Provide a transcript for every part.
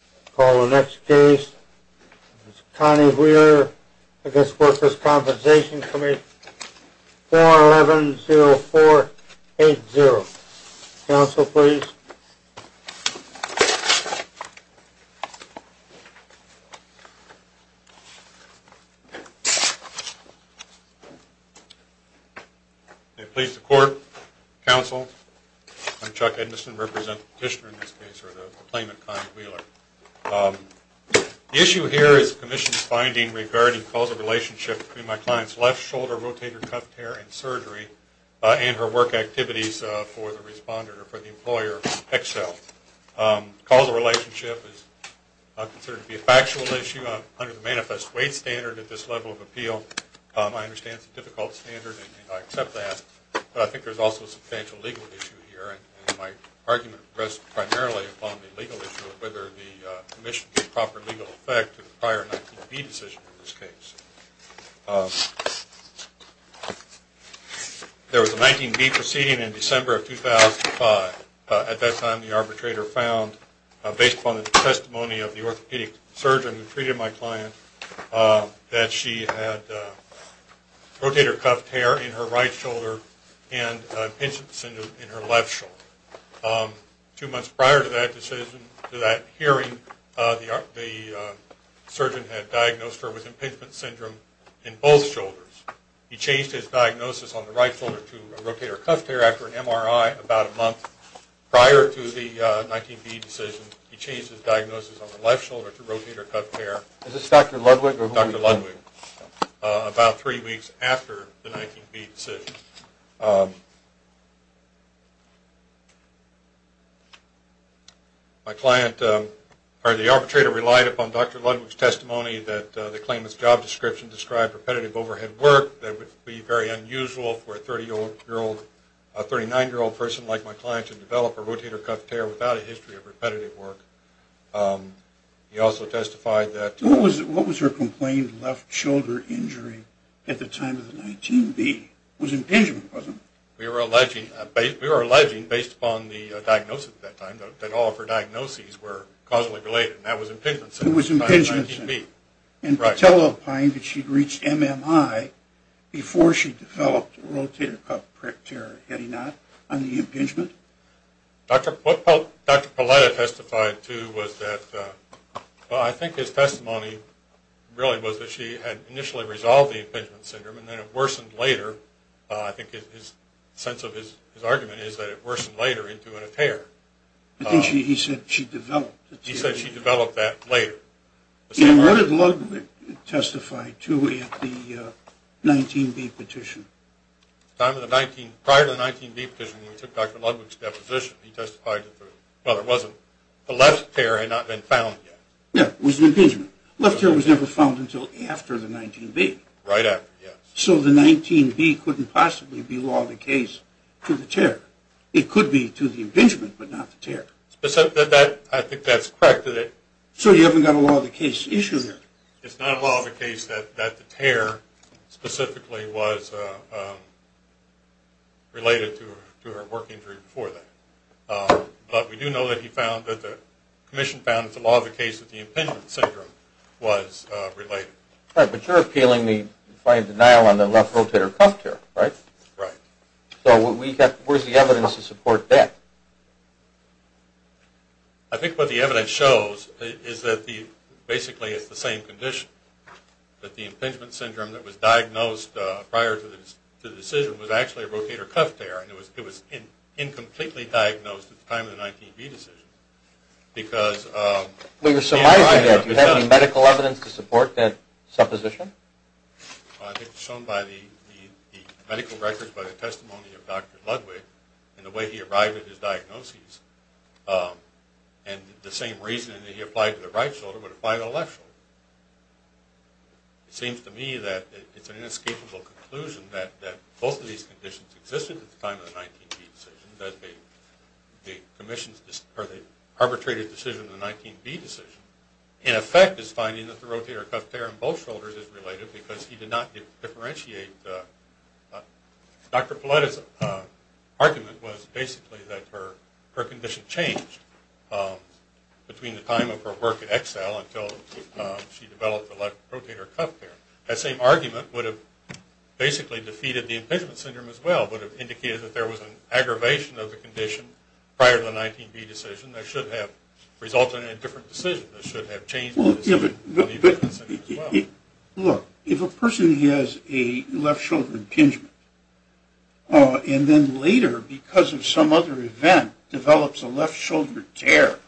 I call the next case, Connie Wheeler v. Workers' Compensation Comm'n, 411-0480. Counsel, please. May it please the Court, Counsel, I'm Chuck Edmondson, representing the petitioner in this case, or the plaintiff, Connie Wheeler. The issue here is the Commission's finding regarding causal relationship between my client's left shoulder rotator cuff tear and surgery and her work activities for the respondent, or for the employer, Excel. Causal relationship is considered to be a factual issue under the manifest weight standard at this level of appeal. I understand it's a difficult standard and I accept that, but I think there's also a substantial legal issue here, and my argument rests primarily upon the legal issue of whether the Commission gave proper legal effect to the prior 19B decision in this case. There was a 19B proceeding in December of 2005. At that time, the arbitrator found, based upon the testimony of the orthopedic surgeon who treated my client, that she had rotator cuff tear in her right shoulder and impingement syndrome in her left shoulder. Two months prior to that hearing, the surgeon had diagnosed her with impingement syndrome in both shoulders. He changed his diagnosis on the right shoulder to rotator cuff tear after an MRI about a month prior to the 19B decision. He changed his diagnosis on the left shoulder to rotator cuff tear about three weeks after the 19B decision. The arbitrator relied upon Dr. Ludwig's testimony that the claimant's job description described repetitive overhead work that would be very unusual for a 39-year-old person like my client to develop a rotator cuff tear without a history of repetitive work. What was her complained left shoulder injury at the time of the 19B? It was impingement, wasn't it? We were alleging, based upon the diagnosis at that time, that all of her diagnoses were causally related, and that was impingement syndrome. It was impingement syndrome. And Patel opined that she'd reached MMI before she developed rotator cuff tear, had he not, on the impingement? What Dr. Palletta testified to was that, well, I think his testimony really was that she had initially resolved the impingement syndrome, and then it worsened later. I think his sense of his argument is that it worsened later into a tear. I think he said she developed the tear. He said she developed that later. And what did Ludwig testify to at the 19B petition? Prior to the 19B petition, when we took Dr. Ludwig's deposition, he testified that the left tear had not been found yet. Yeah, it was an impingement. Left tear was never found until after the 19B. Right after, yes. So the 19B couldn't possibly be law of the case to the tear. It could be to the impingement, but not the tear. I think that's correct. So you haven't got a law of the case issue there? It's not a law of the case that the tear specifically was related to her work injury before that. But we do know that he found that the commission found that the law of the case of the impingement syndrome was related. Right, but you're appealing the defiant denial on the left rotator cuff tear, right? Right. So where's the evidence to support that? I think what the evidence shows is that basically it's the same condition, that the impingement syndrome that was diagnosed prior to the decision was actually a rotator cuff tear, and it was incompletely diagnosed at the time of the 19B decision. We were surmising that. Do you have any medical evidence to support that supposition? I think it's shown by the medical records, by the testimony of Dr. Ludwig, and the way he arrived at his diagnosis, and the same reasoning that he applied to the right shoulder would apply to the left shoulder. It seems to me that it's an inescapable conclusion that both of these conditions existed at the time of the 19B decision, that the arbitrated decision of the 19B decision, in effect, is finding that the rotator cuff tear on both shoulders is related because he did not differentiate. Dr. Pauletta's argument was basically that her condition changed between the time of her work at Excel until she developed the left rotator cuff tear. That same argument would have basically defeated the impingement syndrome as well, would have indicated that there was an aggravation of the condition prior to the 19B decision. That should have resulted in a different decision. That should have changed the decision of the impingement syndrome as well. Look, if a person has a left shoulder impingement, and then later, because of some other event, develops a left shoulder tear,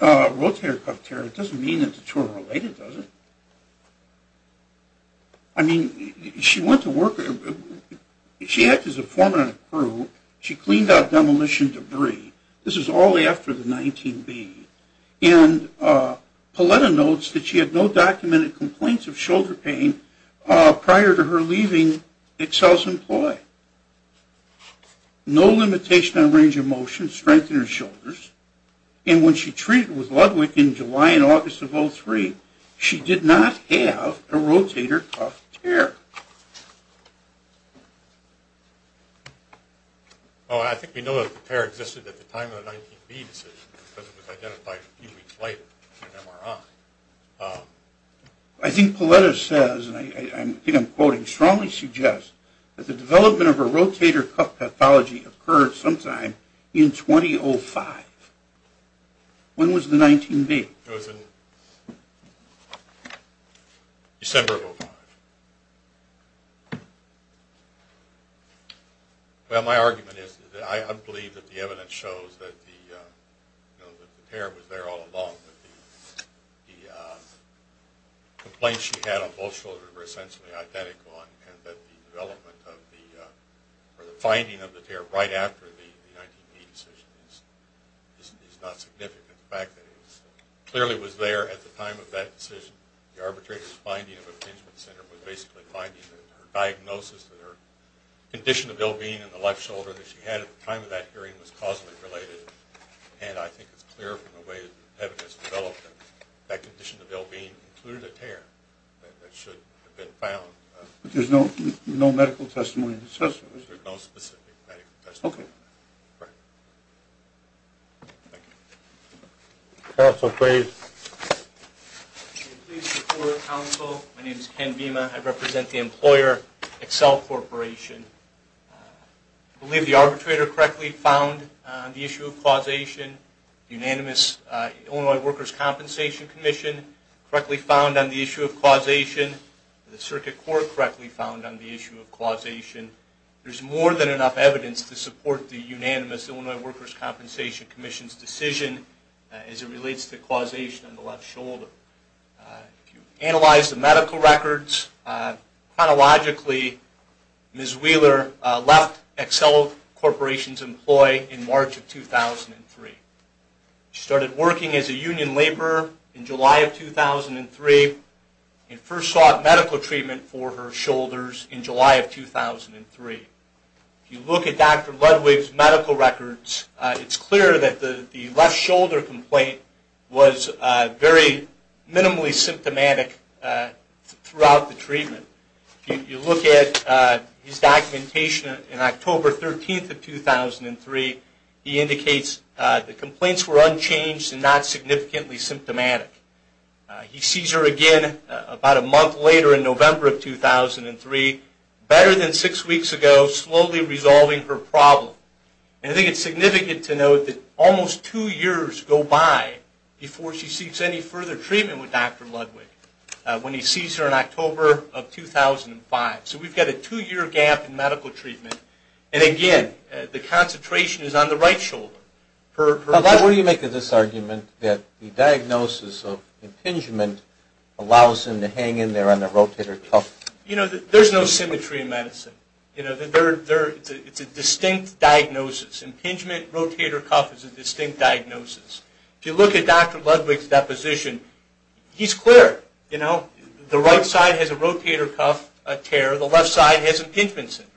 rotator cuff tear, it doesn't mean that the two are related, does it? I mean, she went to work, she acted as a foreman on a crew, she cleaned out demolition debris. This is all after the 19B. And Pauletta notes that she had no documented complaints of shoulder pain prior to her leaving Excel's employ. No limitation on range of motion, strength in her shoulders, and when she treated with Ludwig in July and August of 2003, she did not have a rotator cuff tear. Oh, I think we know that the tear existed at the time of the 19B decision, because it was identified a few weeks later in an MRI. I think Pauletta says, and I think I'm quoting, strongly suggests that the development of a rotator cuff pathology occurred sometime in 2005. When was the 19B? It was in December of 2005. Well, my argument is that I believe that the evidence shows that the tear was there all along, that the complaints she had on both shoulders were essentially identical, and that the development of the, or the finding of the tear right after the 19B decision is not significant. In fact, it clearly was there at the time of that decision. The arbitrator's finding of a contingent center was basically finding that her diagnosis, that her condition of ill-being in the left shoulder that she had at the time of that hearing was causally related, and I think it's clear from the way the evidence developed that that condition of ill-being included a tear that should have been found. But there's no medical testimony that says that? There's no specific medical testimony. Okay. Right. Thank you. Counsel, please. Please support counsel. My name is Ken Bima. I represent the employer, Accel Corporation. I believe the arbitrator correctly found the issue of causation. Unanimous Illinois Workers' Compensation Commission correctly found on the issue of causation. The circuit court correctly found on the issue of causation. There's more than enough evidence to support the unanimous Illinois Workers' Compensation Commission's decision as it relates to causation of the left shoulder. If you analyze the medical records, chronologically, Ms. Wheeler left Accel Corporation's employ in March of 2003. She started working as a union laborer in July of 2003 and first sought medical treatment for her shoulders in July of 2003. If you look at Dr. Ludwig's medical records, it's clear that the left shoulder complaint was very minimally symptomatic throughout the treatment. If you look at his documentation in October 13th of 2003, he indicates the complaints were unchanged and not significantly symptomatic. He sees her again about a month later in November of 2003, better than six weeks ago, slowly resolving her problem. And I think it's significant to note that almost two years go by before she seeks any further treatment with Dr. Ludwig when he sees her in October of 2005. So we've got a two-year gap in medical treatment. And again, the concentration is on the right shoulder. What do you make of this argument that the diagnosis of impingement allows him to hang in there on the rotator cuff? There's no symmetry in medicine. It's a distinct diagnosis. Impingement, rotator cuff is a distinct diagnosis. If you look at Dr. Ludwig's deposition, he's clear. The right side has a rotator cuff tear. The left side has impingement syndrome.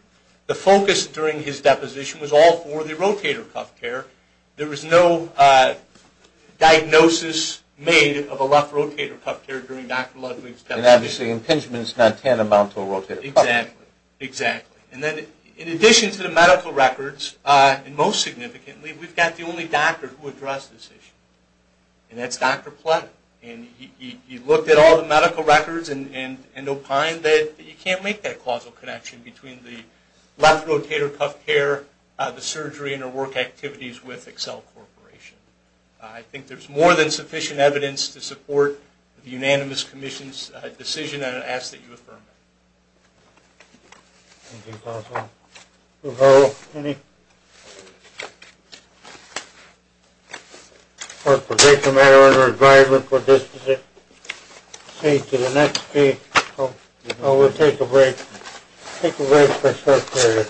The focus during his deposition was all for the rotator cuff tear. There was no diagnosis made of a left rotator cuff tear during Dr. Ludwig's deposition. And obviously impingement is not tantamount to a rotator cuff tear. Exactly. And then in addition to the medical records, and most significantly, we've got the only doctor who addressed this issue, and that's Dr. Platt. And he looked at all the medical records and opined that you can't make that causal connection between the left rotator cuff tear, the surgery, and her work activities with Accel Corporation. I think there's more than sufficient evidence to support the unanimous commission's decision, and I ask that you affirm it. Thank you, Dr. Hall. Do we have any? For a particular matter under advisement for distancing, say, to the next case. We'll take a break. Take a break for a short period.